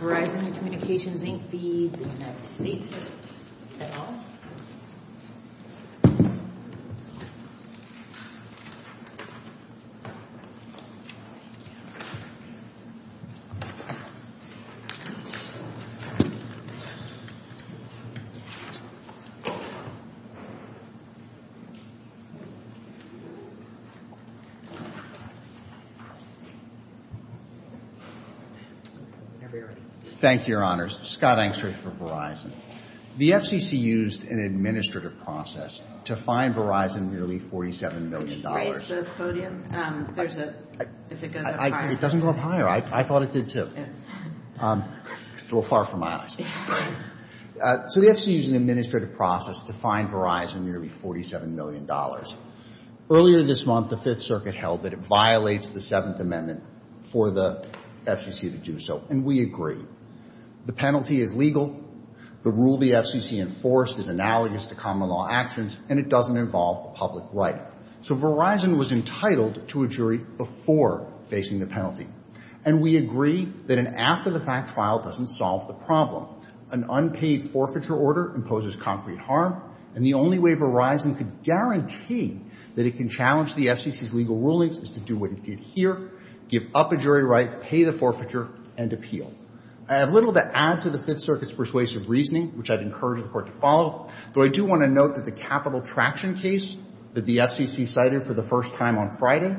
Verizon Communications Inc. v. United States Federal Communications Commission Scott Angstreich, Verizon. The FCC used an administrative process to find Verizon nearly $47 million. Can you raise the podium? If it goes up higher. It doesn't go up higher. I thought it did too. It's a little far from my eyes. So the FCC used an administrative process to find Verizon nearly $47 million. Earlier this month, the Fifth Circuit held that it violates the Seventh Amendment for the FCC to do so. And we agree. The penalty is legal. The rule the FCC enforced is analogous to common law actions. And it doesn't involve the public right. So Verizon was entitled to a jury before facing the penalty. And we agree that an after-the-fact trial doesn't solve the problem. An unpaid forfeiture order imposes concrete harm. And the only way Verizon could guarantee that it can challenge the FCC's legal rulings is to do what it did here. Give up a jury right, pay the forfeiture, and appeal. I have little to add to the Fifth Circuit's persuasive reasoning, which I'd encourage the Court to follow. But I do want to note that the capital traction case that the FCC cited for the first time on Friday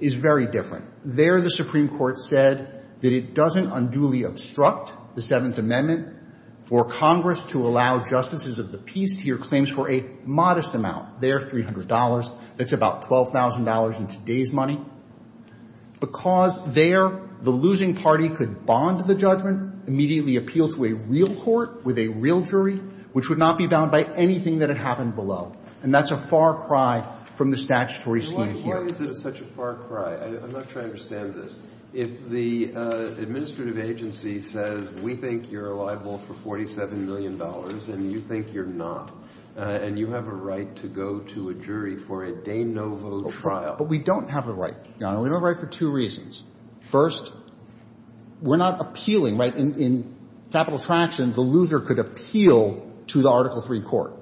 is very different. There, the Supreme Court said that it doesn't unduly obstruct the Seventh Amendment for Congress to allow justices of the peace to hear claims for a modest amount. There, $300. That's about $12,000 in today's money. Because there, the losing party could bond to the judgment, immediately appeal to a real court with a real jury, which would not be bound by anything that had happened below. And that's a far cry from the statutory scheme here. Why is it such a far cry? I'm not trying to understand this. If the administrative agency says, we think you're liable for $47 million, and you think you're not, and you have a right to go to a jury for a de novo trial. But we don't have a right, Your Honor. We have a right for two reasons. First, we're not appealing, right? In capital traction, the loser could appeal to the Article III court.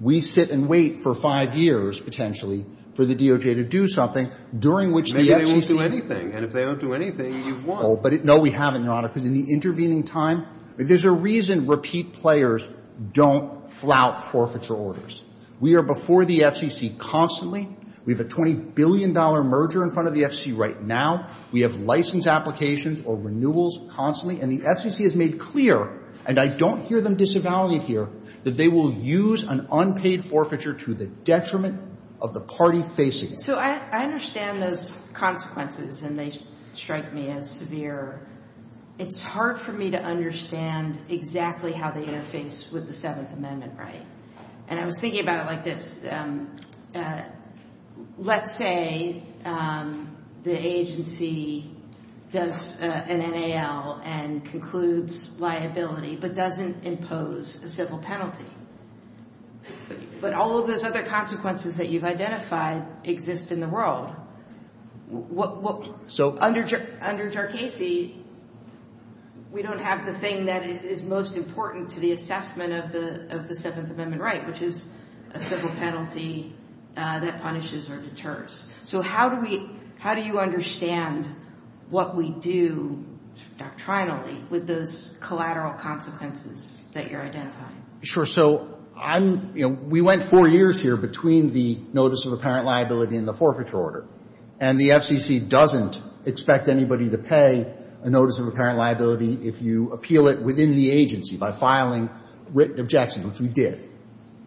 We sit and wait for five years, potentially, for the DOJ to do something, during which the FCC— Maybe they won't do anything. And if they don't do anything, you've won. No, we haven't, Your Honor, because in the intervening time, there's a reason repeat players don't flout forfeiture orders. We are before the FCC constantly. We have a $20 billion merger in front of the FCC right now. We have license applications or renewals constantly. And the FCC has made clear, and I don't hear them disavow you here, that they will use an unpaid forfeiture to the detriment of the party facing it. So I understand those consequences, and they strike me as severe. It's hard for me to understand exactly how they interface with the Seventh Amendment right. And I was thinking about it like this. Let's say the agency does an NAL and concludes liability, but doesn't impose a civil penalty. But all of those other consequences that you've identified exist in the world. Under JARCASE, we don't have the thing that is most important to the assessment of the Seventh Amendment right, which is a civil penalty that punishes or deters. So how do you understand what we do doctrinally with those collateral consequences that you're identifying? Sure. So I'm, you know, we went four years here between the notice of apparent liability and the forfeiture order. And the FCC doesn't expect anybody to pay a notice of apparent liability if you appeal it within the agency by filing written objections, which we did.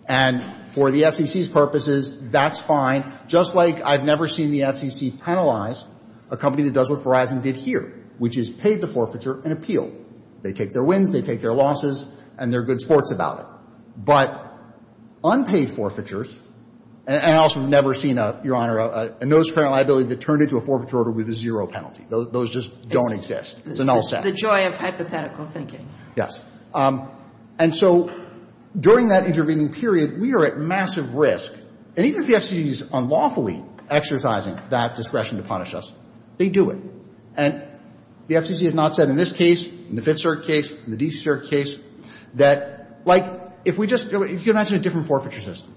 And for the FCC's purposes, that's fine, just like I've never seen the FCC penalize a company that does what Verizon did here, which is pay the forfeiture and appeal. They take their wins, they take their losses, and they're good sports about it. But unpaid forfeitures, and I also have never seen, Your Honor, a notice of apparent liability that turned into a forfeiture order with a zero penalty. Those just don't exist. It's a null set. The joy of hypothetical thinking. Yes. And so during that intervening period, we are at massive risk. And even if the FCC is unlawfully exercising that discretion to punish us, they do it. And the FCC has not said in this case, in the Fifth Circuit case, in the DC Circuit case, that, like, if we just, you know, you can imagine a different forfeiture system,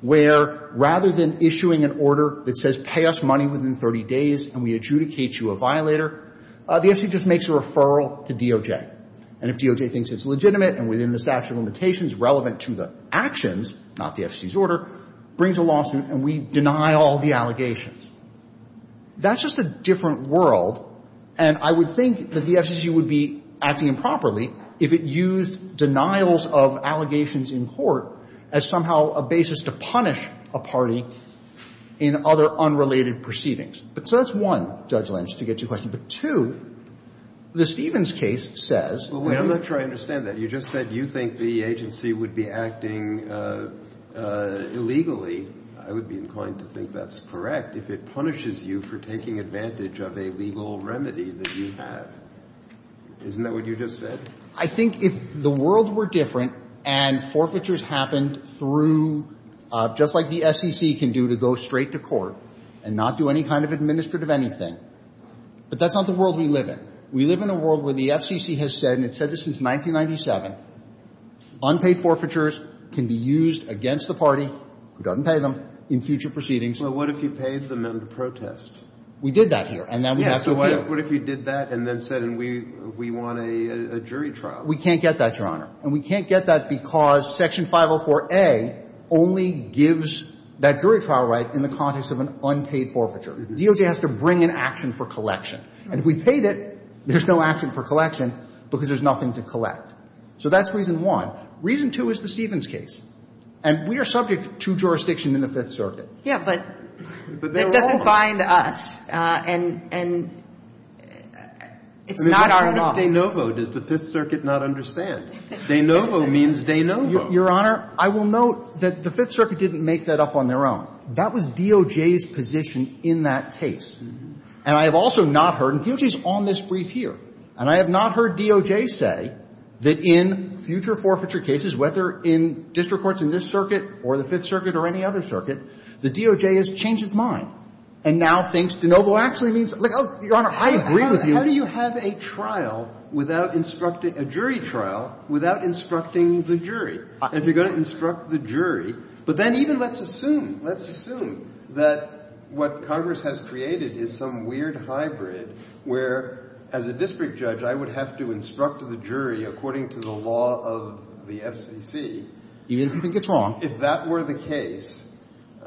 where rather than issuing an order that says pay us money within 30 days and we adjudicate you a violator, the FCC just makes a referral to DOJ. And if DOJ thinks it's legitimate and within the statute of limitations relevant to the actions, not the FCC's order, brings a lawsuit and we deny all the allegations. That's just a different world, and I would think that the FCC would be acting improperly if it used denials of allegations in court as somehow a basis to punish a party in other unrelated proceedings. But so that's one, Judge Lynch, to get to your question. But, two, the Stevens case says that we're going to do that. Well, I'm not sure I understand that. You just said you think the agency would be acting illegally. I would be inclined to think that's correct if it punishes you for taking advantage of a legal remedy that you have. Isn't that what you just said? I think if the world were different and forfeitures happened through, just like the SEC can do to go straight to court and not do any kind of administrative anything, but that's not the world we live in. We live in a world where the FCC has said, and it's said this since 1997, unpaid forfeitures can be used against the party who doesn't pay them in future proceedings. Well, what if you paid them in the protest? We did that here, and now we have to appeal. Yeah, so what if you did that and then said, and we want a jury trial? We can't get that, Your Honor. And we can't get that because Section 504A only gives that jury trial right in the context of an unpaid forfeiture. DOJ has to bring an action for collection. And if we paid it, there's no action for collection because there's nothing to collect. So that's reason one. Reason two is the Stevens case. And we are subject to jurisdiction in the Fifth Circuit. Yeah, but it doesn't bind us, and it's not our law. It's not De Novo. Does the Fifth Circuit not understand? De Novo means De Novo. Your Honor, I will note that the Fifth Circuit didn't make that up on their own. That was DOJ's position in that case. And I have also not heard, and DOJ is on this brief here, and I have not heard DOJ say that in future forfeiture cases, whether in district courts in this circuit or the Fifth Circuit or any other circuit, the DOJ has changed its mind and now thinks De Novo actually means – look, Your Honor, I agree with you. How do you have a trial without – a jury trial without instructing the jury? If you're going to instruct the jury – but then even let's assume, let's assume that what Congress has created is some weird hybrid where as a district judge I would have to instruct the jury according to the law of the FCC. Even if you think it's wrong. If that were the case,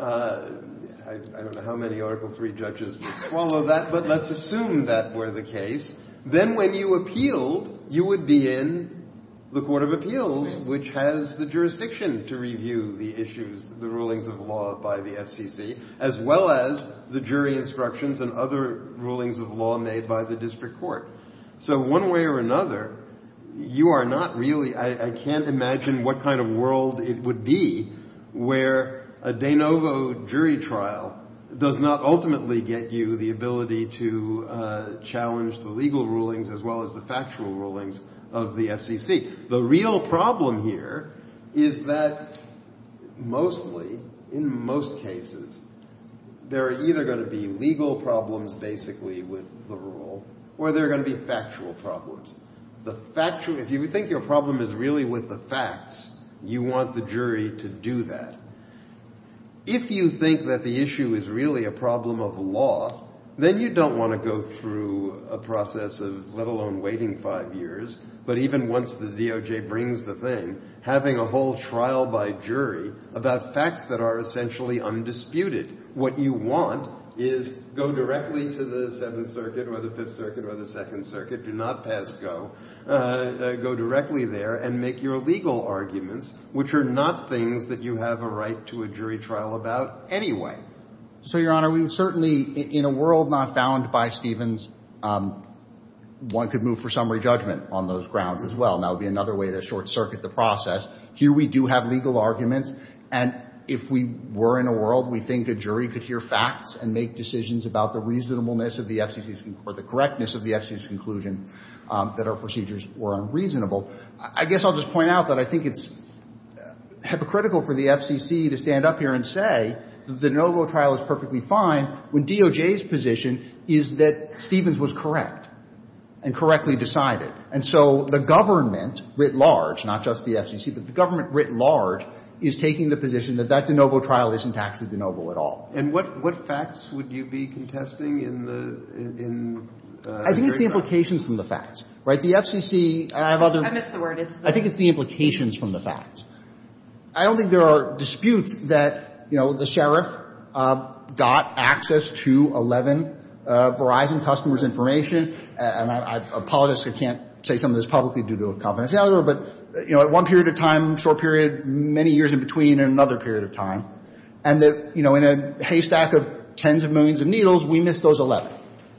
I don't know how many Article III judges would swallow that, but let's assume that were the case. Then when you appealed, you would be in the Court of Appeals, which has the jurisdiction to review the issues, the rulings of law by the FCC, as well as the jury instructions and other rulings of law made by the district court. So one way or another, you are not really – I can't imagine what kind of world it would be where a De Novo jury trial does not ultimately get you the ability to challenge the legal rulings as well as the factual rulings of the FCC. The real problem here is that mostly, in most cases, there are either going to be legal problems basically with the rule or there are going to be factual problems. The factual – if you think your problem is really with the facts, you want the jury to do that. If you think that the issue is really a problem of law, then you don't want to go through a process of let alone waiting five years, but even once the DOJ brings the thing, having a whole trial by jury about facts that are essentially undisputed. What you want is go directly to the Seventh Circuit or the Fifth Circuit or the Second Circuit. Do not pass go. Go directly there and make your legal arguments, which are not things that you have a right to a jury trial about anyway. So, Your Honor, we would certainly – in a world not bound by Stevens, one could move for summary judgment on those grounds as well. That would be another way to short-circuit the process. Here we do have legal arguments, and if we were in a world, we think a jury could hear facts and make decisions about the reasonableness of the FCC's – or the correctness of the FCC's conclusion that our procedures were unreasonable. I guess I'll just point out that I think it's hypocritical for the FCC to stand up here and say the NoVo trial is perfectly fine when DOJ's position is that Stevens was correct and correctly decided. And so the government, writ large, not just the FCC, but the government, writ large, is taking the position that that NoVo trial isn't actually the NoVo at all. And what facts would you be contesting in the jury trial? I think it's the implications from the facts. Right? The FCC – and I have other – I missed the word. I think it's the implications from the facts. I don't think there are disputes that, you know, the sheriff got access to 11 Verizon customers' information. And I apologize. I can't say some of this publicly due to a confidentiality error. But, you know, at one period of time, short period, many years in between, and another period of time, and that, you know, in a haystack of tens of millions of needles, we missed those 11.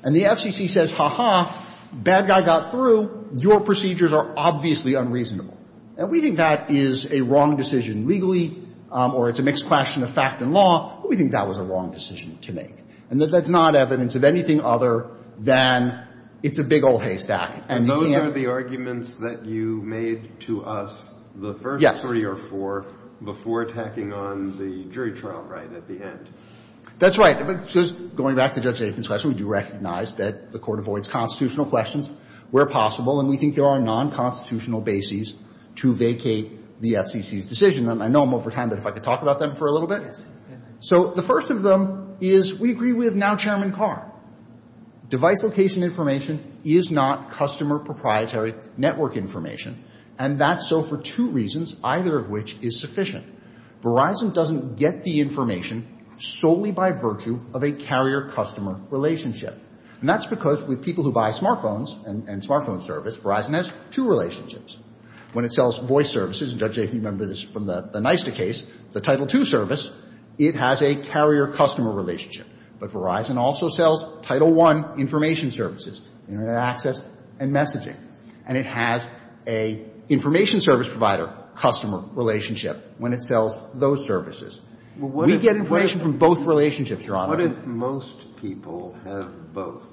And the FCC says, ha-ha, bad guy got through. Your procedures are obviously unreasonable. And we think that is a wrong decision legally, or it's a mixed question of fact and law. We think that was a wrong decision to make. And that that's not evidence of anything other than it's a big old haystack. And those are the arguments that you made to us the first three or four before attacking on the jury trial, right, at the end. That's right. Going back to Judge Aitken's question, we do recognize that the court avoids constitutional questions where possible. And we think there are non-constitutional bases to vacate the FCC's decision. And I know I'm over time, but if I could talk about them for a little bit. Yes. So the first of them is we agree with now-chairman Carr. Device location information is not customer proprietary network information. And that's so for two reasons, either of which is sufficient. Verizon doesn't get the information solely by virtue of a carrier-customer relationship. And that's because with people who buy smartphones and smartphone service, Verizon has two relationships. When it sells voice services, and Judge Aitken remembers this from the NYSTA case, the Title II service, it has a carrier-customer relationship. But Verizon also sells Title I information services, Internet access and messaging. And it has a information service provider-customer relationship when it sells those services. We get information from both relationships, Your Honor. What if most people have both?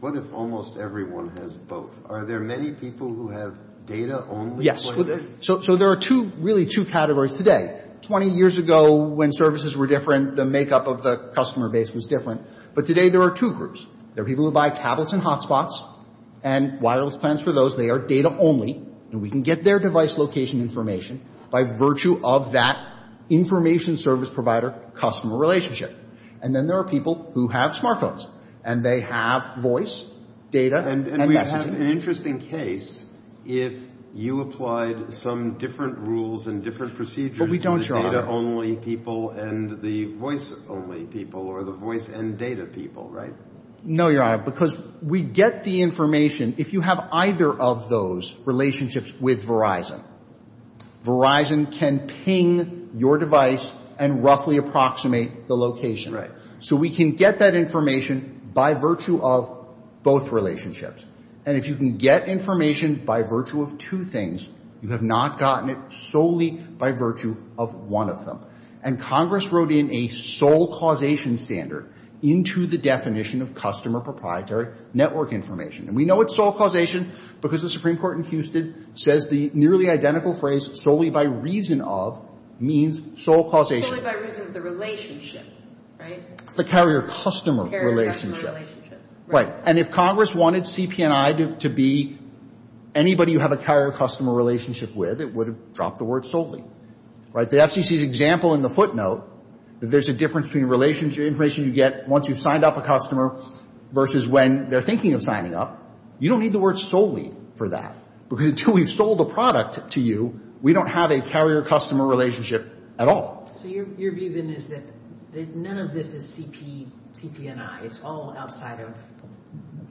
What if almost everyone has both? Are there many people who have data only? Yes. So there are really two categories today. Twenty years ago when services were different, the makeup of the customer base was different. But today there are two groups. There are people who buy tablets and hotspots and wireless plans for those. They are data only. And we can get their device location information by virtue of that information service provider-customer relationship. And then there are people who have smartphones, and they have voice, data and messaging. It would be an interesting case if you applied some different rules and different procedures to the data only people and the voice only people or the voice and data people, right? No, Your Honor, because we get the information if you have either of those relationships with Verizon. Verizon can ping your device and roughly approximate the location. Right. So we can get that information by virtue of both relationships. And if you can get information by virtue of two things, you have not gotten it solely by virtue of one of them. And Congress wrote in a sole causation standard into the definition of customer proprietary network information. And we know it's sole causation because the Supreme Court in Houston says the nearly identical phrase, solely by reason of, means sole causation. Solely by reason of the relationship, right? The carrier-customer relationship. Carrier-customer relationship. Right. And if Congress wanted CP&I to be anybody you have a carrier-customer relationship with, it would have dropped the word solely, right? The FCC's example in the footnote, if there's a difference between information you get once you've signed up a customer versus when they're thinking of signing up, you don't need the word solely for that because until we've sold a product to you, we don't have a carrier-customer relationship at all. So your view then is that none of this is CP, CP&I. It's all outside of...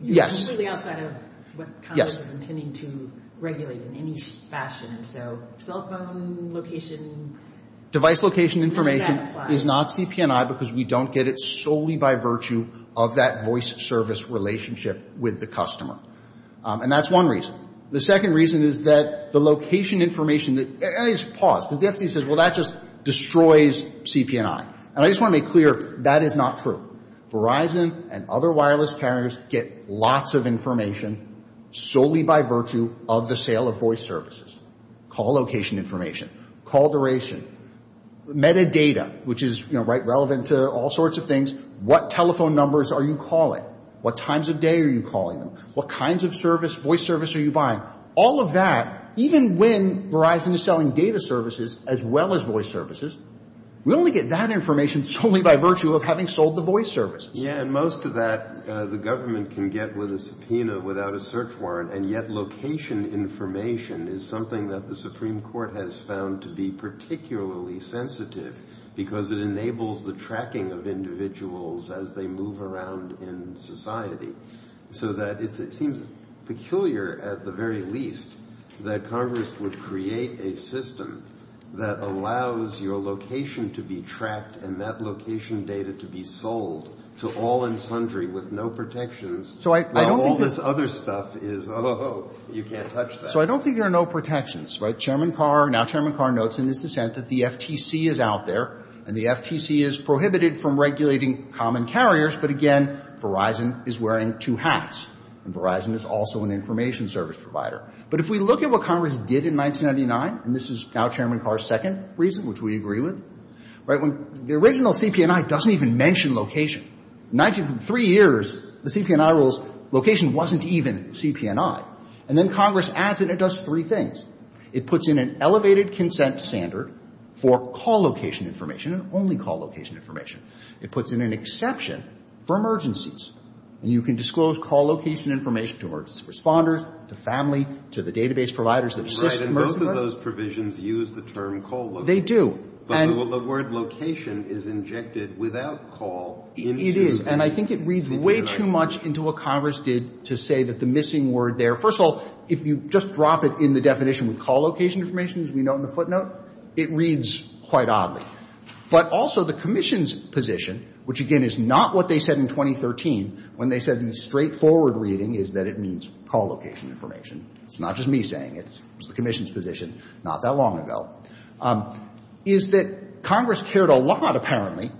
Yes. It's really outside of what Congress is intending to regulate in any fashion. And so cell phone location... Device location information is not CP&I because we don't get it solely by virtue of that voice service relationship with the customer. And that's one reason. The second reason is that the location information that... Just pause because the FCC says, well, that just destroys CP&I. And I just want to make clear, that is not true. Verizon and other wireless carriers get lots of information solely by virtue of the sale of voice services. Call location information, call duration, metadata, which is, you know, right, relevant to all sorts of things. What telephone numbers are you calling? What times of day are you calling them? What kinds of voice service are you buying? All of that, even when Verizon is selling data services as well as voice services, we only get that information solely by virtue of having sold the voice services. Yeah, and most of that the government can get with a subpoena without a search warrant. And yet location information is something that the Supreme Court has found to be particularly sensitive because it enables the tracking of individuals as they move around in society so that it seems peculiar at the very least that Congress would create a system that allows your location to be tracked and that location data to be sold to all and sundry with no protections. So I don't think... All this other stuff is, oh, you can't touch that. So I don't think there are no protections. Chairman Carr, now Chairman Carr, notes in his dissent that the FTC is out there and the FTC is prohibited from regulating common carriers, but, again, Verizon is wearing two hats and Verizon is also an information service provider. But if we look at what Congress did in 1999, and this is now Chairman Carr's second reason, which we agree with, right, the original CP&I doesn't even mention location. Three years, the CP&I rules, location wasn't even CP&I. And then Congress adds it and it does three things. It puts in an elevated consent standard for call location information and only call location information. It puts in an exception for emergencies. And you can disclose call location information to emergency responders, to family, to the database providers that assist in emergencies. Right, and both of those provisions use the term call location. They do. But the word location is injected without call. It is, and I think it reads way too much into what Congress did to say that the missing word there. First of all, if you just drop it in the definition with call location information, as we note in the footnote, it reads quite oddly. But also the commission's position, which, again, is not what they said in 2013, when they said the straightforward reading is that it means call location information. It's not just me saying it. It was the commission's position not that long ago. Is that Congress cared a lot, apparently,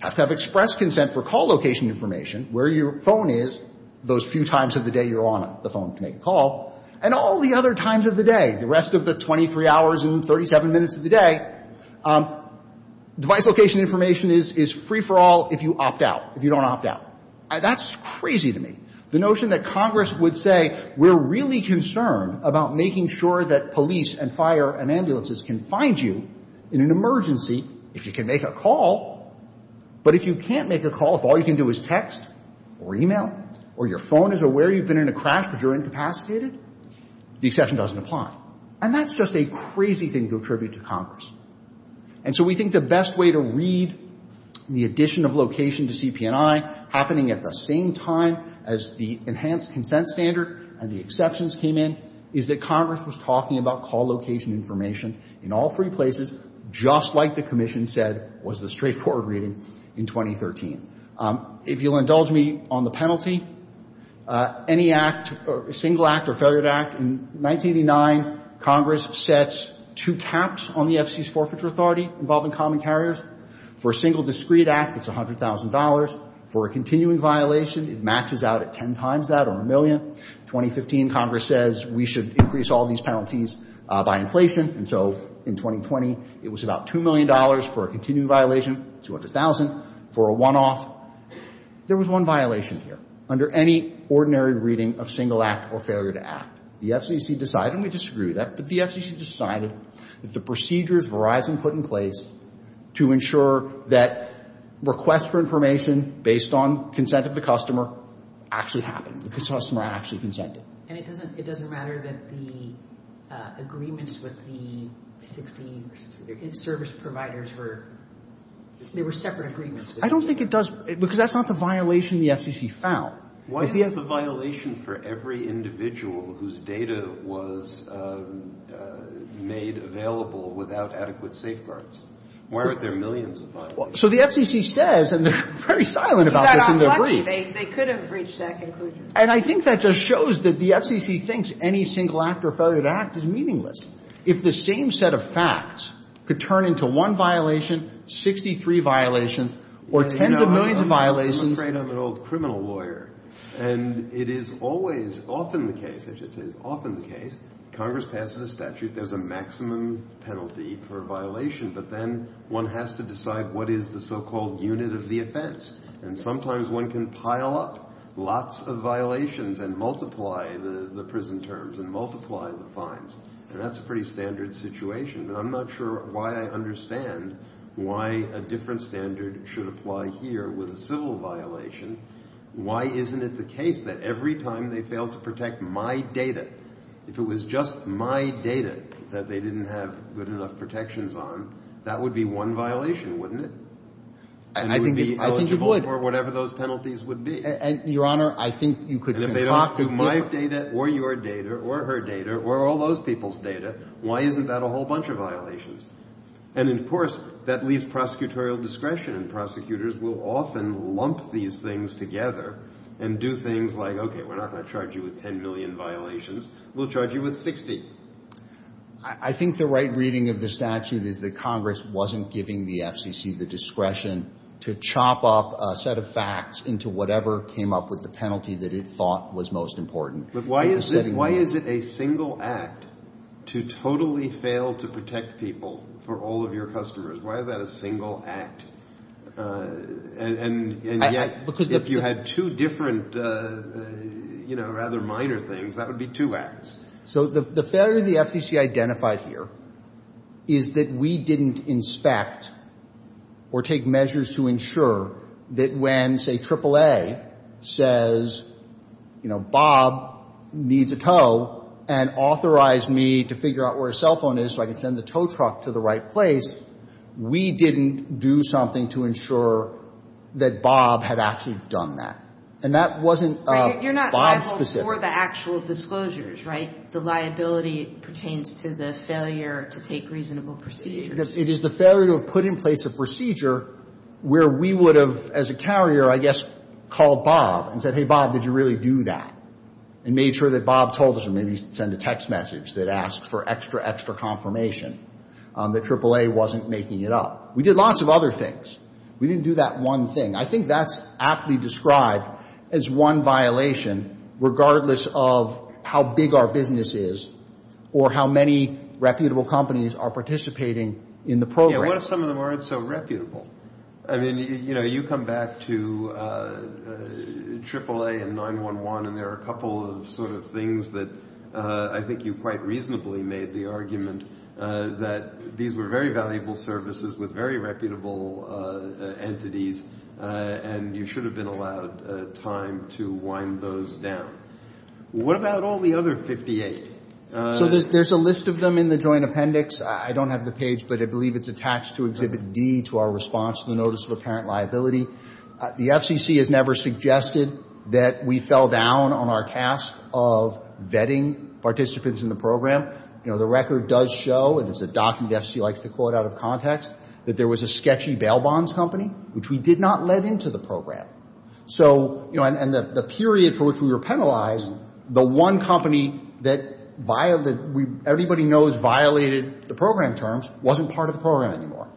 to have expressed consent for call location information where your phone is those few times of the day you're on the phone to make a call, and all the other times of the day, the rest of the 23 hours and 37 minutes of the day, device location information is free for all if you opt out, if you don't opt out. That's crazy to me. The notion that Congress would say we're really concerned about making sure that police and fire and ambulances can find you in an emergency if you can make a call, but if you can't make a call, if all you can do is text or e-mail or your phone is aware you've been in a crash but you're incapacitated, the exception doesn't apply. And that's just a crazy thing to attribute to Congress. And so we think the best way to read the addition of location to CP&I happening at the same time as the enhanced consent standard and the exceptions came in is that Congress was talking about call location information in all three places, just like the commission said was the straightforward reading in 2013. If you'll indulge me on the penalty, any act, single act or failure to act, in 1989 Congress sets two caps on the FC's forfeiture authority involving common carriers. For a single discrete act, it's $100,000. For a continuing violation, it maxes out at ten times that or a million. In 2015 Congress says we should increase all these penalties by inflation. And so in 2020 it was about $2 million for a continuing violation, $200,000 for a one-off. There was one violation here. Under any ordinary reading of single act or failure to act, the FCC decided, and we disagree with that, but the FCC decided that the procedures Verizon put in place to ensure that requests for information based on consent of the customer actually happened. The customer actually consented. And it doesn't matter that the agreements with the 60 service providers were, they were separate agreements. I don't think it does, because that's not the violation the FCC found. Why is the violation for every individual whose data was made available without adequate safeguards? Why aren't there millions of violations? So the FCC says, and they're very silent about this in their brief. They could have reached that conclusion. And I think that just shows that the FCC thinks any single act or failure to act is meaningless. If the same set of facts could turn into one violation, 63 violations, or tens of millions of violations. I'm afraid I'm an old criminal lawyer. And it is always, often the case, I should say it's often the case, Congress passes a statute, there's a maximum penalty for a violation, but then one has to decide what is the so-called unit of the offense. And sometimes one can pile up lots of violations and multiply the prison terms and multiply the fines. And that's a pretty standard situation. And I'm not sure why I understand why a different standard should apply here with a civil violation. Why isn't it the case that every time they fail to protect my data, if it was just my data that they didn't have good enough protections on, that would be one violation, wouldn't it? And I think you would. And would be eligible for whatever those penalties would be. And, Your Honor, I think you could talk to people. And if they don't do my data or your data or her data or all those people's data, why isn't that a whole bunch of violations? And, of course, that leaves prosecutorial discretion. And prosecutors will often lump these things together and do things like, okay, we're not going to charge you with 10 million violations. We'll charge you with 60. I think the right reading of the statute is that Congress wasn't giving the FCC the discretion to chop up a set of facts into whatever came up with the penalty that it thought was most important. But why is it a single act to totally fail to protect people for all of your customers? Why is that a single act? And yet, if you had two different, you know, rather minor things, that would be two acts. So the failure the FCC identified here is that we didn't inspect or take measures to ensure that when, say, AAA says, you know, Bob needs a tow and authorized me to figure out where his cell phone is so I could send the tow truck to the right place, we didn't do something to ensure that Bob had actually done that. And that wasn't Bob specific. For the actual disclosures, right? The liability pertains to the failure to take reasonable procedures. It is the failure to have put in place a procedure where we would have, as a carrier, I guess, called Bob and said, hey, Bob, did you really do that, and made sure that Bob told us or maybe sent a text message that asked for extra, extra confirmation that AAA wasn't making it up. We did lots of other things. We didn't do that one thing. I think that's aptly described as one violation, regardless of how big our business is or how many reputable companies are participating in the program. Yeah, what if some of them aren't so reputable? I mean, you know, you come back to AAA and 911, and there are a couple of sort of things that I think you quite reasonably made the argument that these were very valuable services with very reputable entities, and you should have been allowed time to wind those down. What about all the other 58? So there's a list of them in the joint appendix. I don't have the page, but I believe it's attached to Exhibit D, to our response to the Notice of Apparent Liability. The FCC has never suggested that we fell down on our task of vetting participants in the program. You know, the record does show, and it's a document the FCC likes to quote out of context, that there was a sketchy bail bonds company, which we did not let into the program. So, you know, and the period for which we were penalized, the one company that everybody knows violated the program terms wasn't part of the program anymore.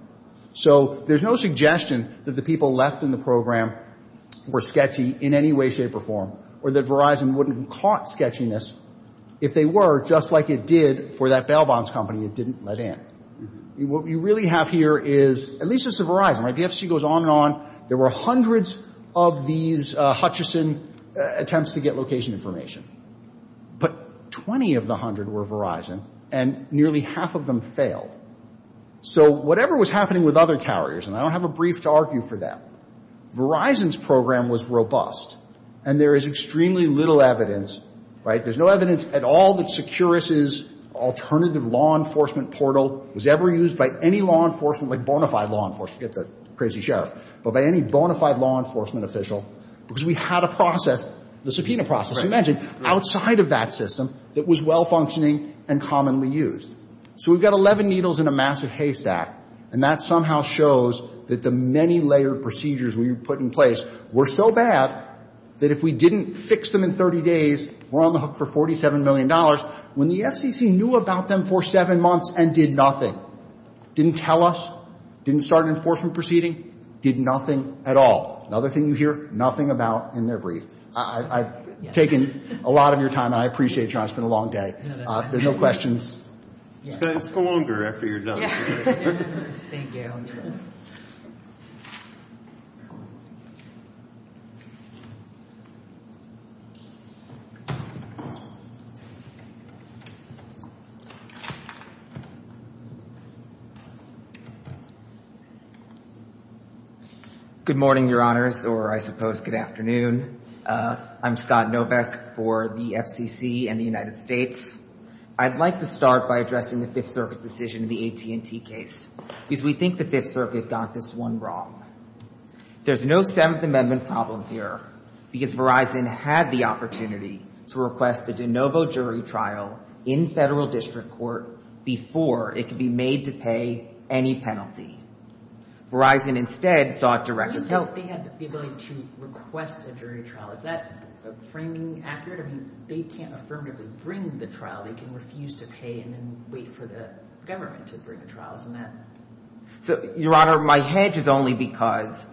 So there's no suggestion that the people left in the program were sketchy in any way, shape, or form, or that Verizon wouldn't have caught sketchiness if they were, just like it did for that bail bonds company it didn't let in. What we really have here is, at least as of Verizon, right, the FCC goes on and on. There were hundreds of these Hutchison attempts to get location information, but 20 of the hundred were Verizon, and nearly half of them failed. So whatever was happening with other carriers, and I don't have a brief to argue for them, Verizon's program was robust, and there is extremely little evidence, right, there's no evidence at all that Securus's alternative law enforcement portal was ever used by any law enforcement, like bona fide law enforcement, forget the crazy sheriff, but by any bona fide law enforcement official, because we had a process, the subpoena process, as you mentioned, outside of that system that was well functioning and commonly used. So we've got 11 needles in a massive haystack, and that somehow shows that the many layered procedures we put in place were so bad that if we didn't fix them in 30 days, we're on the hook for $47 million. When the FCC knew about them for seven months and did nothing, didn't tell us, didn't start an enforcement proceeding, did nothing at all. Another thing you hear, nothing about in their brief. I've taken a lot of your time, and I appreciate you. It's been a long day. There's no questions. Just go longer after you're done. Thank you. Good morning, Your Honors, or I suppose good afternoon. I'm Scott Noveck for the FCC and the United States. I'd like to start by addressing the Fifth Circuit's decision in the AT&T case, because we think the Fifth Circuit got this one wrong. There's no Seventh Amendment problem here, because Verizon had the opportunity to request a de novo jury trial in federal district court before it could be made to pay any penalty. Verizon instead sought director's help. They had the ability to request a jury trial. Is that framing accurate? I mean, they can't affirmatively bring the trial. They can refuse to pay and then wait for the government to bring a trial. Isn't that? So, Your Honor, my hedge is only because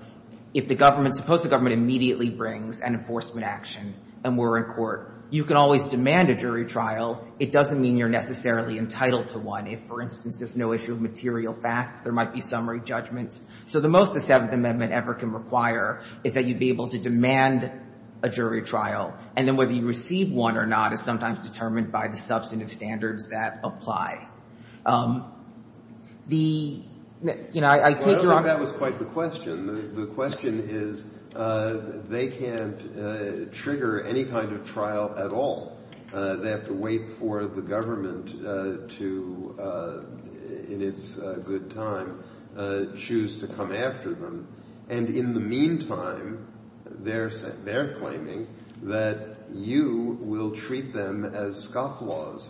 if the government, suppose the government immediately brings an enforcement action and we're in court, you can always demand a jury trial. It doesn't mean you're necessarily entitled to one. If, for instance, there's no issue of material facts, there might be summary judgments. So the most the Seventh Amendment ever can require is that you'd be able to demand a jury trial, and then whether you receive one or not is sometimes determined by the substantive standards that apply. The, you know, I take your argument. Well, I don't think that was quite the question. The question is they can't trigger any kind of trial at all. They have to wait for the government to, in its good time, choose to come after them. And in the meantime, they're claiming that you will treat them as scofflaws.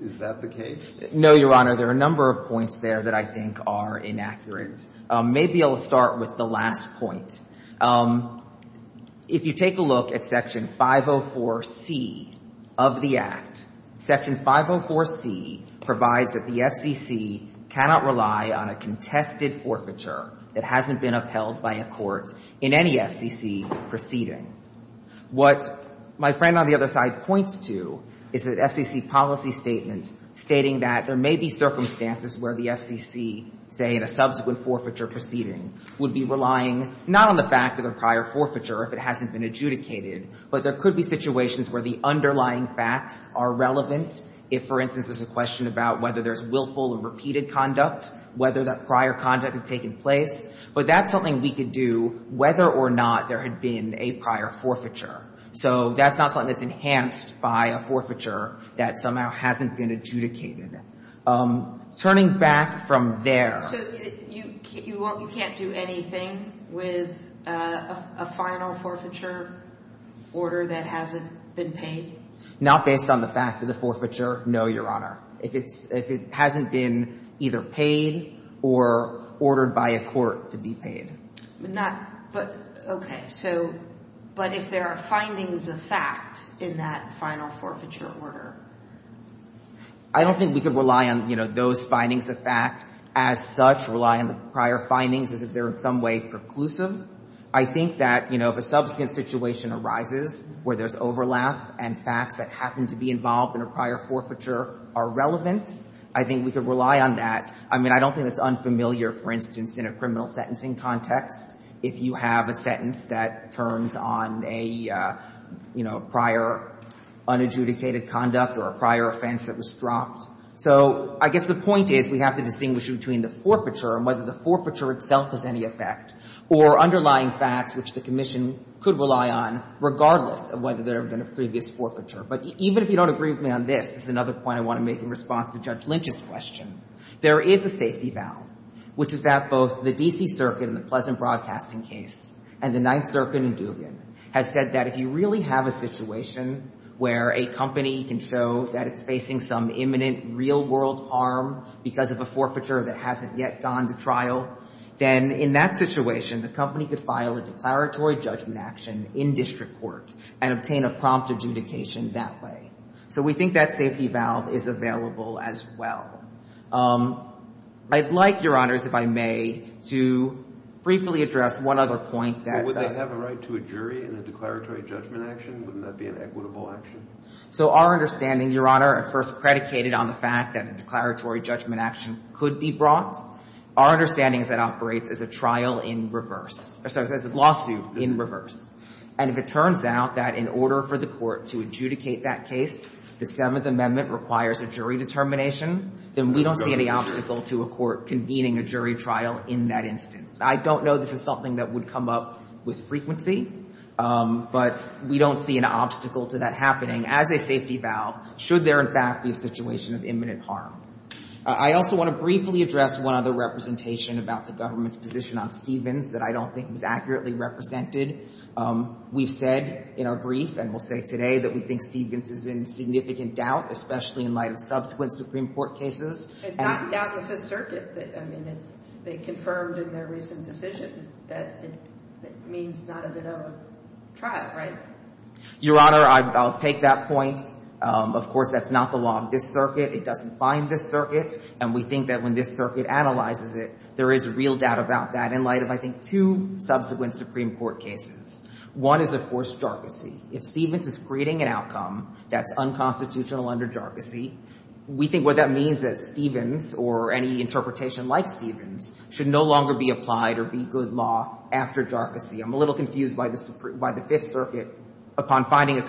Is that the case? No, Your Honor. There are a number of points there that I think are inaccurate. Maybe I'll start with the last point. If you take a look at Section 504C of the Act, Section 504C provides that the FCC cannot rely on a contested forfeiture. It hasn't been upheld by a court in any FCC proceeding. What my friend on the other side points to is that FCC policy statement stating that there may be circumstances where the FCC, say, in a subsequent forfeiture proceeding, would be relying not on the fact of the prior forfeiture if it hasn't been adjudicated, but there could be situations where the underlying facts are relevant. If, for instance, there's a question about whether there's willful and repeated conduct, whether that prior conduct had taken place. But that's something we could do whether or not there had been a prior forfeiture. So that's not something that's enhanced by a forfeiture that somehow hasn't been adjudicated. Turning back from there. So you can't do anything with a final forfeiture order that hasn't been paid? Not based on the fact of the forfeiture, no, Your Honor. If it hasn't been either paid or ordered by a court to be paid. Okay. But if there are findings of fact in that final forfeiture order? I don't think we could rely on those findings of fact as such, rely on the prior findings as if they're in some way preclusive. I think that if a subsequent situation arises where there's overlap and facts that are relevant, I think we could rely on that. I mean, I don't think that's unfamiliar, for instance, in a criminal sentencing context if you have a sentence that turns on a, you know, prior unadjudicated conduct or a prior offense that was dropped. So I guess the point is we have to distinguish between the forfeiture and whether the forfeiture itself has any effect or underlying facts which the Commission could rely on regardless of whether there had been a previous forfeiture. But even if you don't agree with me on this, this is another point I want to make in response to Judge Lynch's question. There is a safety valve, which is that both the D.C. Circuit in the Pleasant Broadcasting case and the Ninth Circuit in Duvian have said that if you really have a situation where a company can show that it's facing some imminent real-world harm because of a forfeiture that hasn't yet gone to trial, then in that situation the company could file a declaratory judgment action in district court and obtain a prompt adjudication that way. So we think that safety valve is available as well. I'd like, Your Honors, if I may, to briefly address one other point that the – But would they have a right to a jury in a declaratory judgment action? Wouldn't that be an equitable action? So our understanding, Your Honor, at first predicated on the fact that a declaratory judgment action could be brought. Our understanding is that it operates as a trial in reverse – or sorry, as a lawsuit in reverse. And if it turns out that in order for the court to adjudicate that case, the Seventh Amendment requires a jury determination, then we don't see any obstacle to a court convening a jury trial in that instance. I don't know this is something that would come up with frequency, but we don't see an obstacle to that happening as a safety valve should there, in fact, be a situation of imminent harm. I also want to briefly address one other representation about the government's position on Stevens that I don't think was accurately represented. We've said in our brief, and we'll say today, that we think Stevens is in significant doubt, especially in light of subsequent Supreme Court cases. And not in doubt with the circuit. I mean, they confirmed in their recent decision that it means not a bit of a trial, right? Your Honor, I'll take that point. Of course, that's not the law of this circuit. It doesn't bind this circuit. And we think that when this circuit analyzes it, there is a real doubt about that in light of, I think, two subsequent Supreme Court cases. One is, of course, jargocy. If Stevens is creating an outcome that's unconstitutional under jargocy, we think what that means is Stevens, or any interpretation like Stevens, should no longer be applied or be good law after jargocy. I'm a little confused by the Fifth Circuit, upon finding a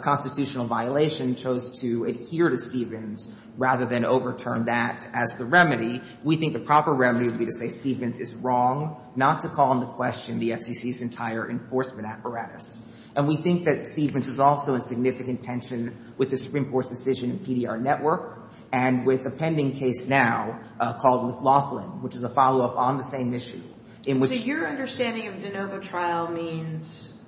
constitutional violation, chose to adhere to Stevens rather than overturn that as the remedy. We think the proper remedy would be to say Stevens is wrong, not to call into question the FCC's entire enforcement apparatus. And we think that Stevens is also in significant tension with the Supreme Court's decision in PDR Network and with a pending case now called McLaughlin, which is a follow-up on the same issue. So your understanding of de novo trial means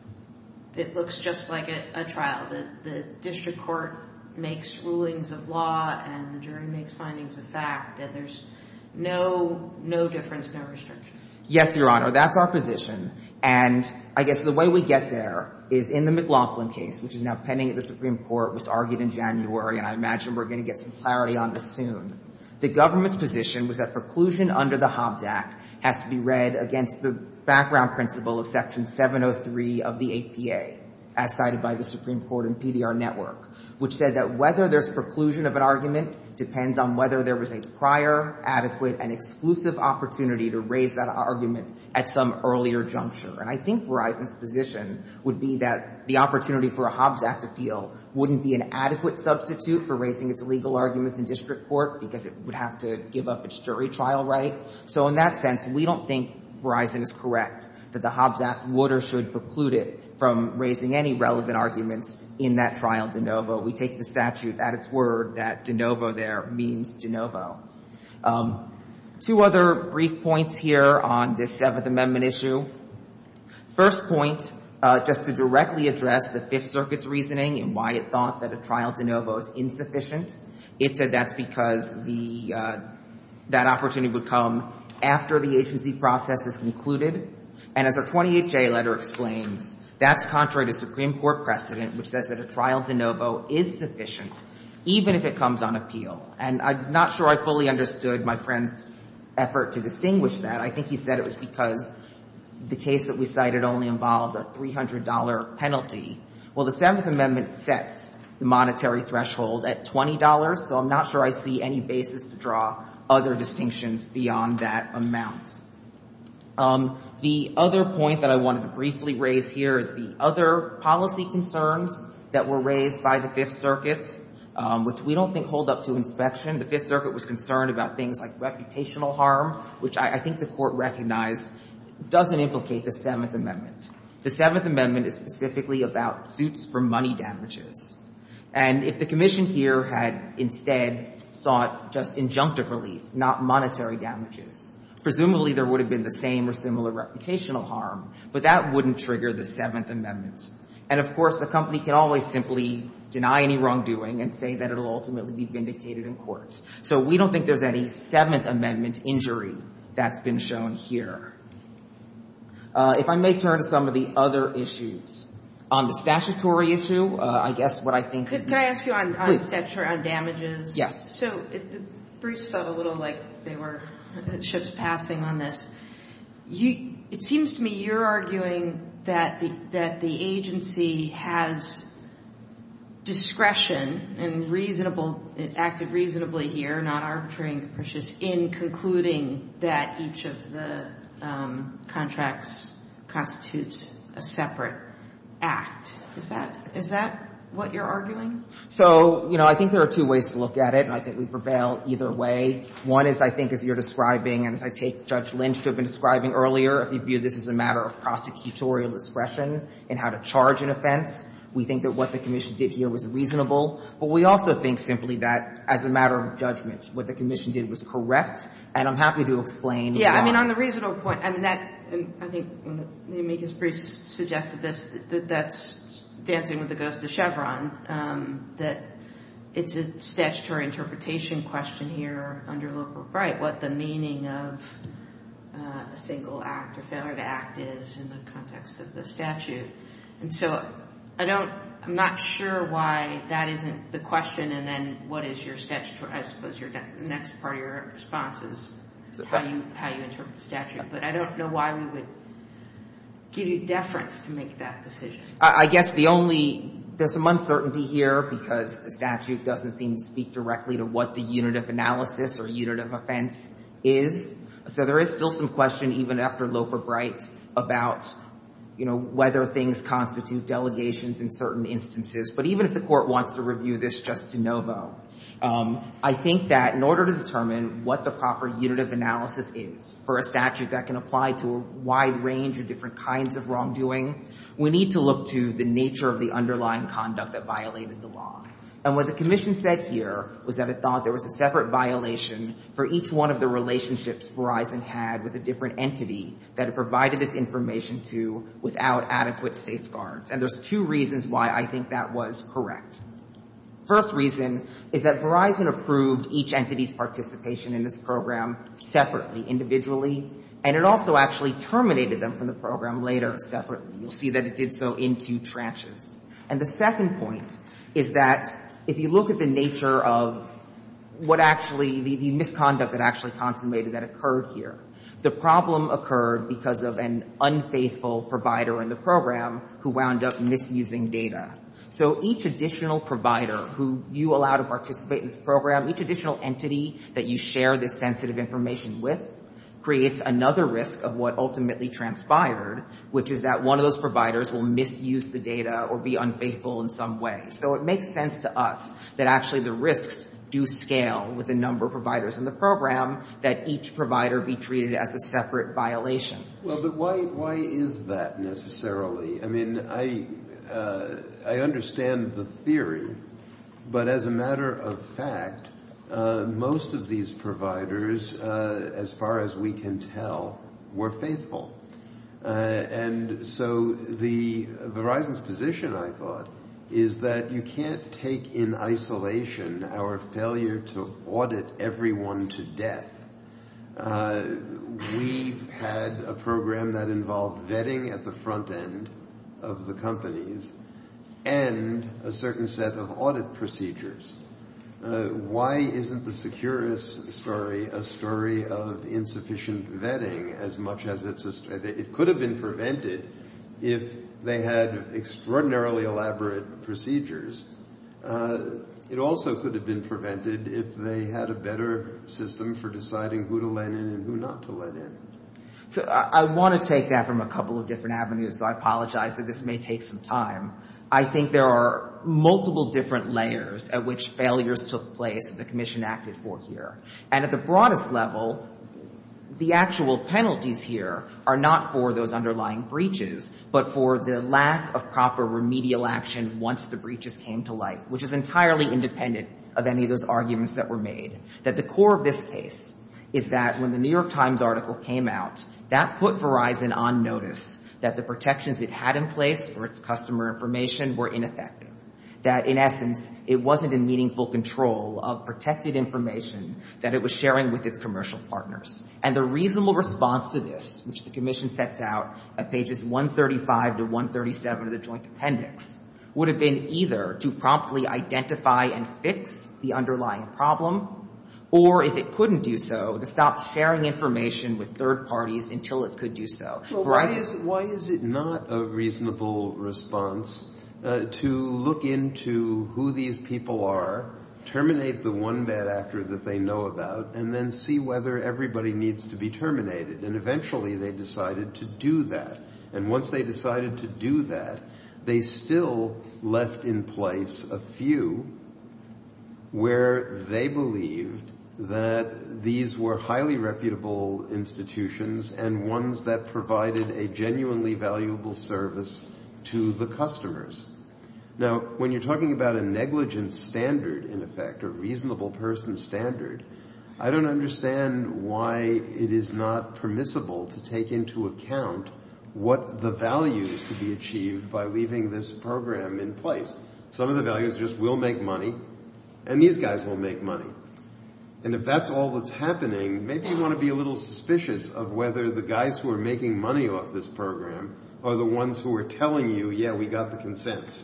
it looks just like a trial, that the district court makes foolings of law and the jury makes findings of fact, that there's no difference, no restriction. Yes, Your Honor. That's our position. And I guess the way we get there is in the McLaughlin case, which is now pending at the Supreme Court, was argued in January, and I imagine we're going to get some clarity on this soon. The government's position was that preclusion under the Hobbs Act has to be read against the background principle of Section 703 of the APA, as cited by the Supreme Court in PDR Network, which said that whether there's preclusion of an argument depends on whether there was a prior, adequate, and exclusive opportunity to raise that argument at some earlier juncture. And I think Verizon's position would be that the opportunity for a Hobbs Act appeal wouldn't be an adequate substitute for raising its legal arguments in district court because it would have to give up its jury trial right. So in that sense, we don't think Verizon is correct, that the Hobbs Act would or should preclude it from raising any relevant arguments in that trial de novo. We take the statute at its word that de novo there means de novo. Two other brief points here on this Seventh Amendment issue. First point, just to directly address the Fifth Circuit's reasoning and why it thought that a trial de novo is insufficient, it said that's because the — that opportunity would come after the agency process is concluded. And as our 28J letter explains, that's contrary to Supreme Court precedent, which says that a trial de novo is sufficient even if it comes on appeal. And I'm not sure I fully understood my friend's effort to distinguish that. I think he said it was because the case that we cited only involved a $300 penalty. Well, the Seventh Amendment sets the monetary threshold at $20, so I'm not sure I see any basis to draw other distinctions beyond that amount. The other point that I wanted to briefly raise here is the other policy concerns that were raised by the Fifth Circuit, which we don't think hold up to inspection. The Fifth Circuit was concerned about things like reputational harm, which I think the Court recognized doesn't implicate the Seventh Amendment. The Seventh Amendment is specifically about suits for money damages. And if the commission here had instead sought just injunctive relief, not monetary damages, presumably there would have been the same or similar reputational harm, but that wouldn't trigger the Seventh Amendment. And, of course, a company can always simply deny any wrongdoing and say that it will ultimately be vindicated in court. So we don't think there's any Seventh Amendment injury that's been shown here. If I may turn to some of the other issues. On the statutory issue, I guess what I think would be – Could I ask you on – Please. – on damages? Yes. So the briefs felt a little like they were ships passing on this. It seems to me you're arguing that the agency has discretion and acted reasonably here, not arbitrating capricious, in concluding that each of the contracts constitutes a separate act. Is that what you're arguing? So, you know, I think there are two ways to look at it, and I think we prevail either way. One is, I think, as you're describing, and as I take Judge Lynch, who I've been describing earlier, if you view this as a matter of prosecutorial discretion in how to charge an offense, we think that what the commission did here was reasonable. But we also think simply that, as a matter of judgment, what the commission did was correct. And I'm happy to explain. I mean, on the reasonable point, I mean, that – I think when the amicus briefs suggested this, that that's dancing with the ghost of Chevron, that it's a statutory interpretation question here under liberal right, what the meaning of a single act or failure to act is in the context of the statute. And so I don't – I'm not sure why that isn't the question, and then what is your statutory – I suppose the next part of your response is how you interpret the statute. But I don't know why we would give you deference to make that decision. I guess the only – there's some uncertainty here because the statute doesn't seem to speak directly to what the unit of analysis or unit of offense is. So there is still some question, even after Loper-Bright, about, you know, whether things constitute delegations in certain instances. But even if the Court wants to review this just de novo, I think that in order to apply to a wide range of different kinds of wrongdoing, we need to look to the nature of the underlying conduct that violated the law. And what the Commission said here was that it thought there was a separate violation for each one of the relationships Verizon had with a different entity that it provided this information to without adequate safeguards. And there's two reasons why I think that was correct. First reason is that Verizon approved each entity's participation in this program separately, individually, and it also actually terminated them from the program later separately. You'll see that it did so in two tranches. And the second point is that if you look at the nature of what actually – the misconduct that actually consummated that occurred here, the problem occurred because of an unfaithful provider in the program who wound up misusing data. So each additional provider who you allow to participate in this program, each with, creates another risk of what ultimately transpired, which is that one of those providers will misuse the data or be unfaithful in some way. So it makes sense to us that actually the risks do scale with the number of providers in the program, that each provider be treated as a separate violation. Well, but why is that necessarily? I mean, I understand the theory, but as a matter of fact, most of these providers as far as we can tell were faithful. And so the – Verizon's position, I thought, is that you can't take in isolation our failure to audit everyone to death. We've had a program that involved vetting at the front end of the companies and a certain set of audit procedures. Why isn't the Securis story a story of insufficient vetting as much as it could have been prevented if they had extraordinarily elaborate procedures? It also could have been prevented if they had a better system for deciding who to let in and who not to let in. So I want to take that from a couple of different avenues, so I apologize that this may take some time. I think there are multiple different layers at which failures took place that the Commission acted for here. And at the broadest level, the actual penalties here are not for those underlying breaches, but for the lack of proper remedial action once the breaches came to light, which is entirely independent of any of those arguments that were made. The core of this case is that when the New York Times article came out, that put Verizon on notice that the protections it had in place for its customer information were ineffective, that in essence it wasn't in meaningful control of protected information that it was sharing with its commercial partners. And the reasonable response to this, which the Commission sets out at pages 135 to 137 of the Joint Appendix, would have been either to promptly identify and fix the underlying problem, or if it couldn't do so, to stop sharing information with third parties. Why is it not a reasonable response to look into who these people are, terminate the one bad actor that they know about, and then see whether everybody needs to be terminated? And eventually they decided to do that. And once they decided to do that, they still left in place a few where they believed that these were highly reputable institutions and ones that provided a genuinely valuable service to the customers. Now, when you're talking about a negligence standard, in effect, a reasonable person standard, I don't understand why it is not permissible to take into account what the values to be achieved by leaving this program in place. Some of the values just will make money, and these guys will make money. And if that's all that's happening, maybe you want to be a little suspicious of whether the guys who are making money off this program are the ones who are telling you, yeah, we got the consent.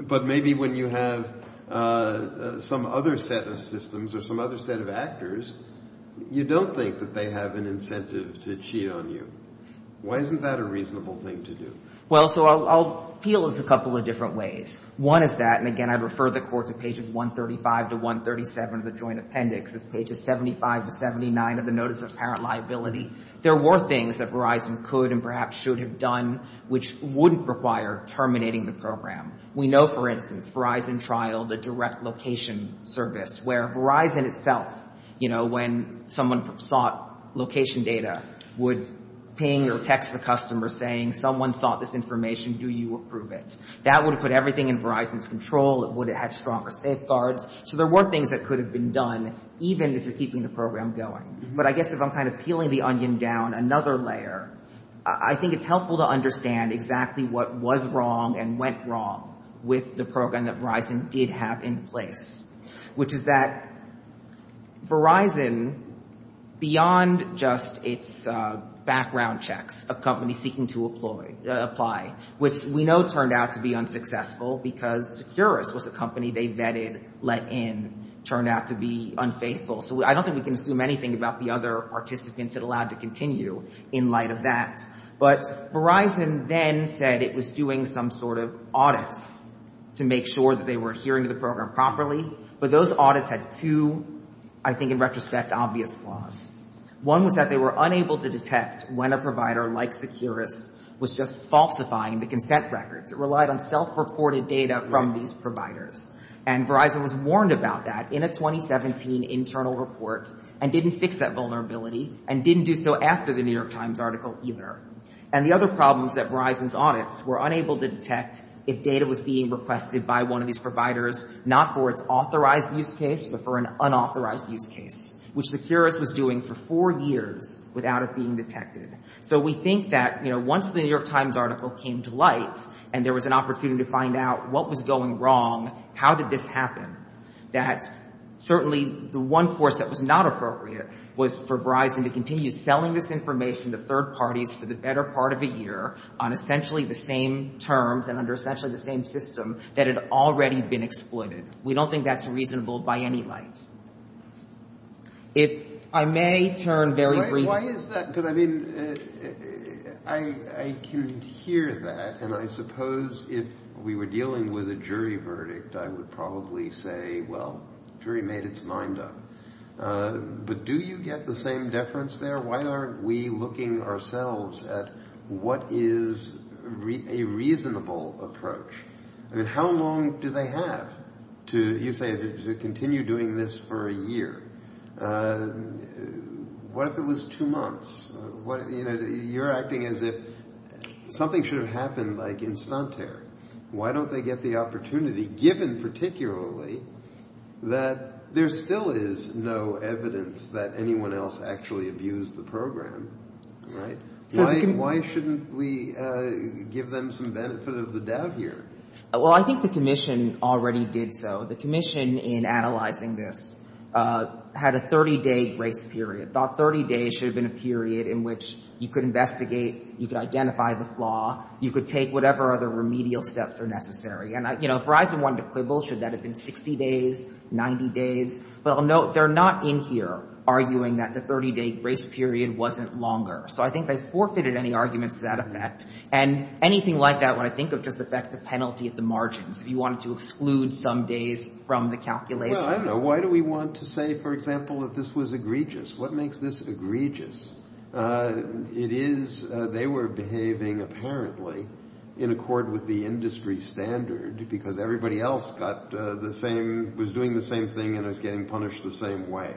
But maybe when you have some other set of systems or some other set of actors, you don't think that they have an incentive to cheat on you. Why isn't that a reasonable thing to do? Well, so I'll appeal in a couple of different ways. One is that, and again, I refer the Court to pages 135 to 137 of the Joint Appendix. It's pages 75 to 79 of the Notice of Apparent Liability. There were things that Verizon could and perhaps should have done which wouldn't require terminating the program. We know, for instance, Verizon trialed a direct location service where Verizon itself, you know, when someone sought location data, would ping or text the customer saying someone sought this information, do you approve it? That would have put everything in Verizon's control. It would have had stronger safeguards. So there were things that could have been done even if you're keeping the program going. But I guess if I'm kind of peeling the onion down another layer, I think it's helpful to understand exactly what was wrong and went wrong with the program that Verizon did have in place, which is that Verizon, beyond just its background checks of which we know turned out to be unsuccessful because Securus was a company they vetted, let in, turned out to be unfaithful. So I don't think we can assume anything about the other participants it allowed to continue in light of that. But Verizon then said it was doing some sort of audits to make sure that they were adhering to the program properly. But those audits had two, I think in retrospect, obvious flaws. One was that they were unable to detect when a provider like Securus was just falsifying the consent records. It relied on self-reported data from these providers. And Verizon was warned about that in a 2017 internal report and didn't fix that vulnerability and didn't do so after the New York Times article either. And the other problem was that Verizon's audits were unable to detect if data was being requested by one of these providers, not for its authorized use case, but for an unauthorized use case, which Securus was doing for four years without it being detected. So we think that, you know, once the New York Times article came to light and there was an opportunity to find out what was going wrong, how did this happen, that certainly the one course that was not appropriate was for Verizon to continue selling this information to third parties for the better part of a year on essentially the same terms and under essentially the same system that had already been exploited. We don't think that's reasonable by any means. If I may turn very briefly. Why is that? But, I mean, I can hear that, and I suppose if we were dealing with a jury verdict, I would probably say, well, jury made its mind up. But do you get the same deference there? Why aren't we looking ourselves at what is a reasonable approach? I mean, how long do they have to, you say, to continue doing this for a year? What if it was two months? You're acting as if something should have happened like instantare. Why don't they get the opportunity, given particularly that there still is no evidence that anyone else actually abused the program, right? Why shouldn't we give them some benefit of the doubt here? Well, I think the commission already did so. The commission in analyzing this had a 30-day grace period, thought 30 days should have been a period in which you could investigate, you could identify the flaw, you could take whatever other remedial steps are necessary. And, you know, if Verizon wanted to quibble, should that have been 60 days, 90 days? But I'll note they're not in here arguing that the 30-day grace period wasn't longer. So I think they forfeited any arguments to that effect. And anything like that when I think of just the fact the penalty at the margins, if you wanted to exclude some days from the calculation. Well, I don't know. Why do we want to say, for example, that this was egregious? What makes this egregious? It is they were behaving apparently in accord with the industry standard because everybody else got the same, was doing the same thing and was getting punished the same way.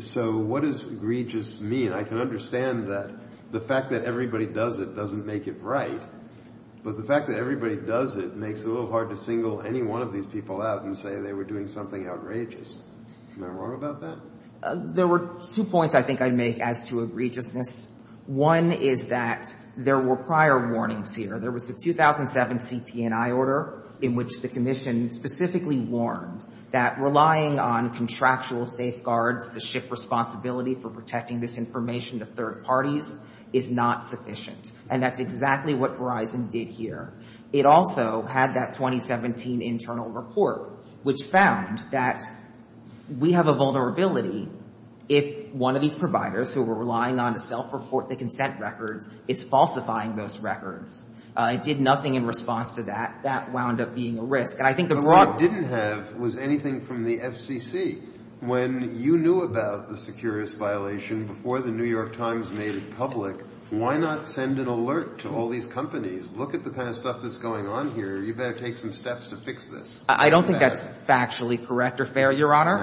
So what does egregious mean? I can understand that the fact that everybody does it doesn't make it right. But the fact that everybody does it makes it a little hard to single any one of these people out and say they were doing something outrageous. Am I wrong about that? There were two points I think I'd make as to egregiousness. One is that there were prior warnings here. There was a 2007 CP&I order in which the commission specifically warned that relying on contractual safeguards to shift responsibility for protecting this information to third parties is not sufficient, and that's exactly what Verizon did here. It also had that 2017 internal report, which found that we have a vulnerability if one of these providers who were relying on to self-report the consent records is falsifying those records. It did nothing in response to that. That wound up being a risk. But what it didn't have was anything from the FCC. When you knew about the securities violation before the New York Times made it public, why not send an alert to all these companies? Look at the kind of stuff that's going on here. You better take some steps to fix this. I don't think that's factually correct or fair, Your Honor.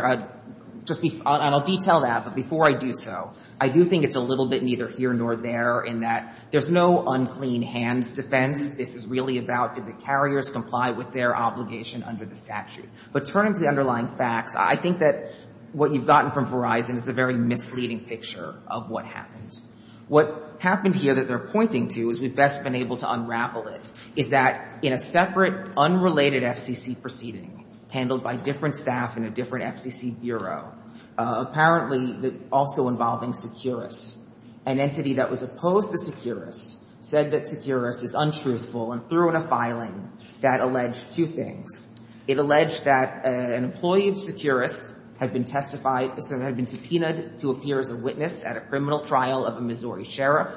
And I'll detail that, but before I do so, I do think it's a little bit neither here nor there in that there's no unclean hands defense. This is really about did the carriers comply with their obligation under the statute. But turning to the underlying facts, I think that what you've gotten from Verizon is a very misleading picture of what happened. What happened here that they're pointing to, as we've best been able to unravel it, is that in a separate unrelated FCC proceeding handled by different staff in a different FCC bureau, apparently also involving Securus, an entity that was opposed to Securus said that Securus is untruthful and threw in a filing that alleged two things. It alleged that an employee of Securus had been testified, had been subpoenaed to appear as a witness at a criminal trial of a Missouri sheriff,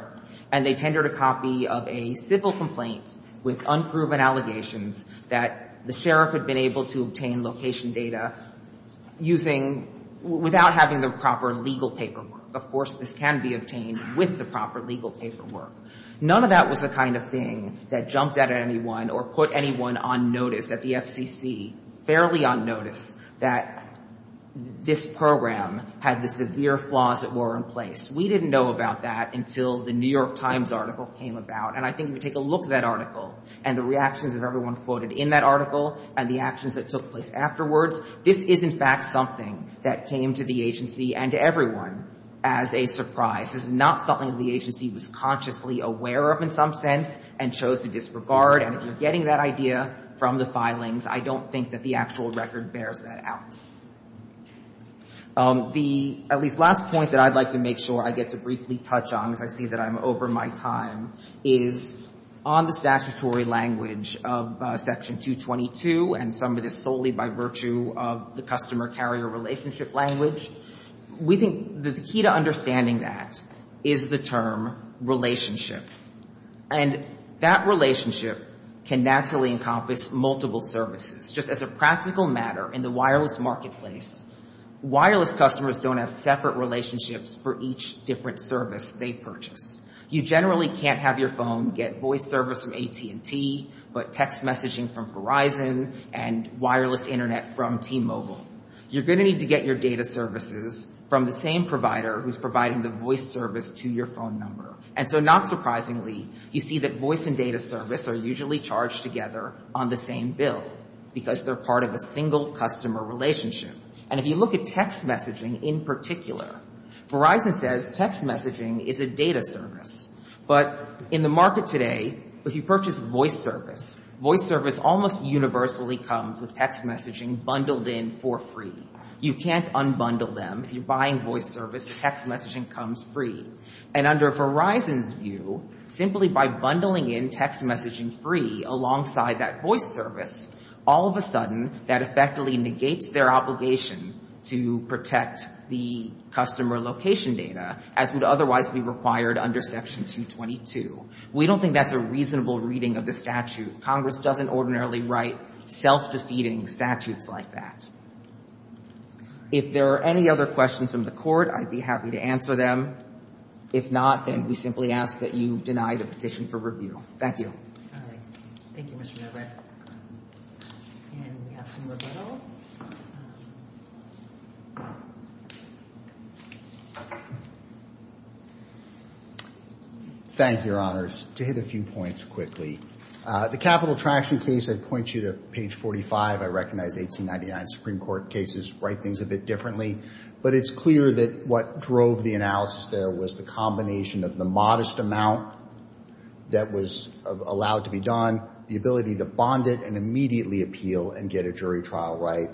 and they tendered a copy of a civil complaint with unproven allegations that the sheriff had been able to obtain location data using, without having the proper legal paperwork. Of course, this can be obtained with the proper legal paperwork. None of that was the kind of thing that jumped at anyone or put anyone on notice at the FCC, fairly unnoticed, that this program had the severe flaws that were in place. We didn't know about that until the New York Times article came about. And I think if you take a look at that article and the reactions of everyone quoted in that article and the actions that took place afterwards, this is in fact something that came to the agency and to everyone as a surprise. This is not something the agency was consciously aware of in some sense and chose to disregard. And if you're getting that idea from the filings, I don't think that the actual record bears that out. The, at least, last point that I'd like to make sure I get to briefly touch on, as I see that I'm over my time, is on the statutory language of Section 222 and some of this solely by virtue of the customer-carrier relationship language, we think that the key to understanding that is the term relationship. And that relationship can naturally encompass multiple services. Just as a practical matter, in the wireless marketplace, wireless customers don't have separate relationships for each different service they purchase. You generally can't have your phone get voice service from AT&T, but text messaging from Verizon and wireless internet from T-Mobile. You're going to need to get your data services from the same provider who's providing the voice service to your phone number. And so not surprisingly, you see that voice and data service are usually charged together on the same bill because they're part of a single customer relationship. And if you look at text messaging in particular, Verizon says text messaging is a data service. But in the market today, if you purchase voice service, voice service almost universally comes with text messaging bundled in for free. You can't unbundle them. If you're buying voice service, the text messaging comes free. And under Verizon's view, simply by bundling in text messaging free alongside that voice service, all of a sudden that effectively negates their obligation to protect the customer location data as would otherwise be required under Section 222. We don't think that's a reasonable reading of the statute. Congress doesn't ordinarily write self-defeating statutes like that. If there are any other questions from the Court, I'd be happy to answer them. If not, then we simply ask that you deny the petition for review. Thank you. All right. Thank you, Mr. Novak. And we have some liberal. Thank you, Your Honors. To hit a few points quickly. The capital traction case I'd point you to page 45. I recognize 1899 Supreme Court cases write things a bit differently. But it's clear that what drove the analysis there was the combination of the modest amount that was allowed to be done, the ability to bond it and immediately appeal and get a jury trial right.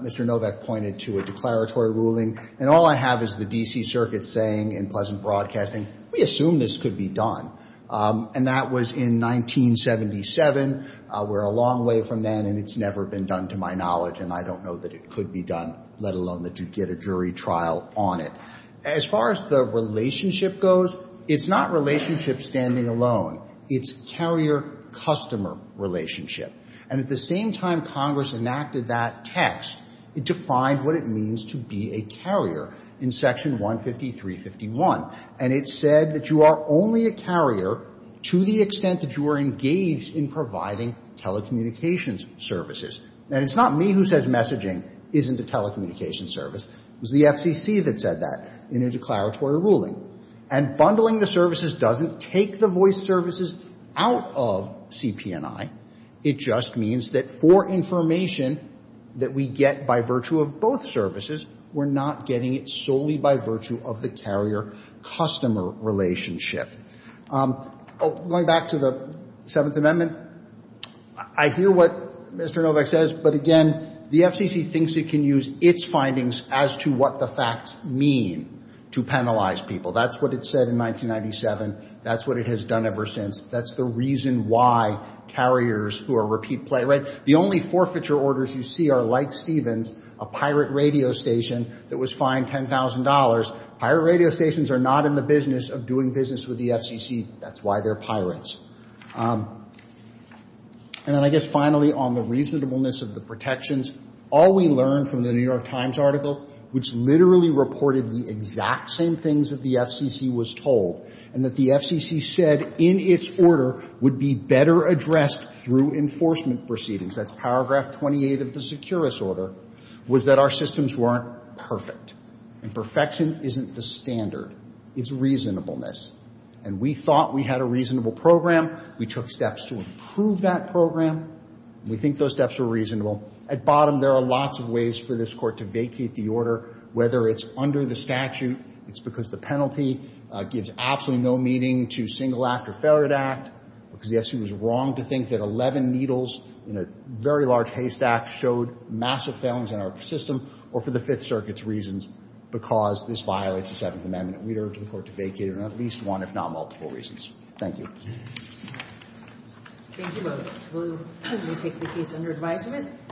Mr. Novak pointed to a declaratory ruling. And all I have is the D.C. Circuit saying in Pleasant Broadcasting, we assume this could be done. And that was in 1977. We're a long way from then, and it's never been done to my knowledge. And I don't know that it could be done, let alone that you'd get a jury trial on it. As far as the relationship goes, it's not relationship standing alone. It's carrier-customer relationship. And at the same time Congress enacted that text, it defined what it means to be a carrier in Section 153.51. And it said that you are only a carrier to the extent that you are engaged in providing telecommunications services. And it's not me who says messaging isn't a telecommunications service. It was the FCC that said that in their declaratory ruling. And bundling the services doesn't take the voice services out of CP&I. It just means that for information that we get by virtue of both services, we're not getting it solely by virtue of the carrier-customer relationship. Going back to the Seventh Amendment, I hear what Mr. Novak says, but again the FCC thinks it can use its findings as to what the facts mean to penalize people. That's what it said in 1997. That's what it has done ever since. That's the reason why carriers who are repeat playwrights. The only forfeiture orders you see are, like Stevens, a pirate radio station that was fined $10,000. Pirate radio stations are not in the business of doing business with the FCC. That's why they're pirates. And then I guess finally on the reasonableness of the protections, all we learned from the New York Times article, which literally reported the exact same things that the FCC was told, and that the FCC said in its order would be better addressed through enforcement proceedings, that's Paragraph 28 of the Securus Order, was that our systems weren't perfect. And perfection isn't the standard. It's reasonableness. And we thought we had a reasonable program. We took steps to improve that program. We think those steps were reasonable. At bottom, there are lots of ways for this Court to vacate the order, whether it's under the statute, it's because the penalty gives absolutely no meaning to single act or failure to act, because the FCC was wrong to think that 11 needles in a very large haystack showed massive failings in our system, or for the Fifth Circuit's reasons, because this violates the Seventh Amendment. We urge the Court to vacate it on at least one, if not multiple, reasons. Thank you. Thank you both. We will take the case under advisement.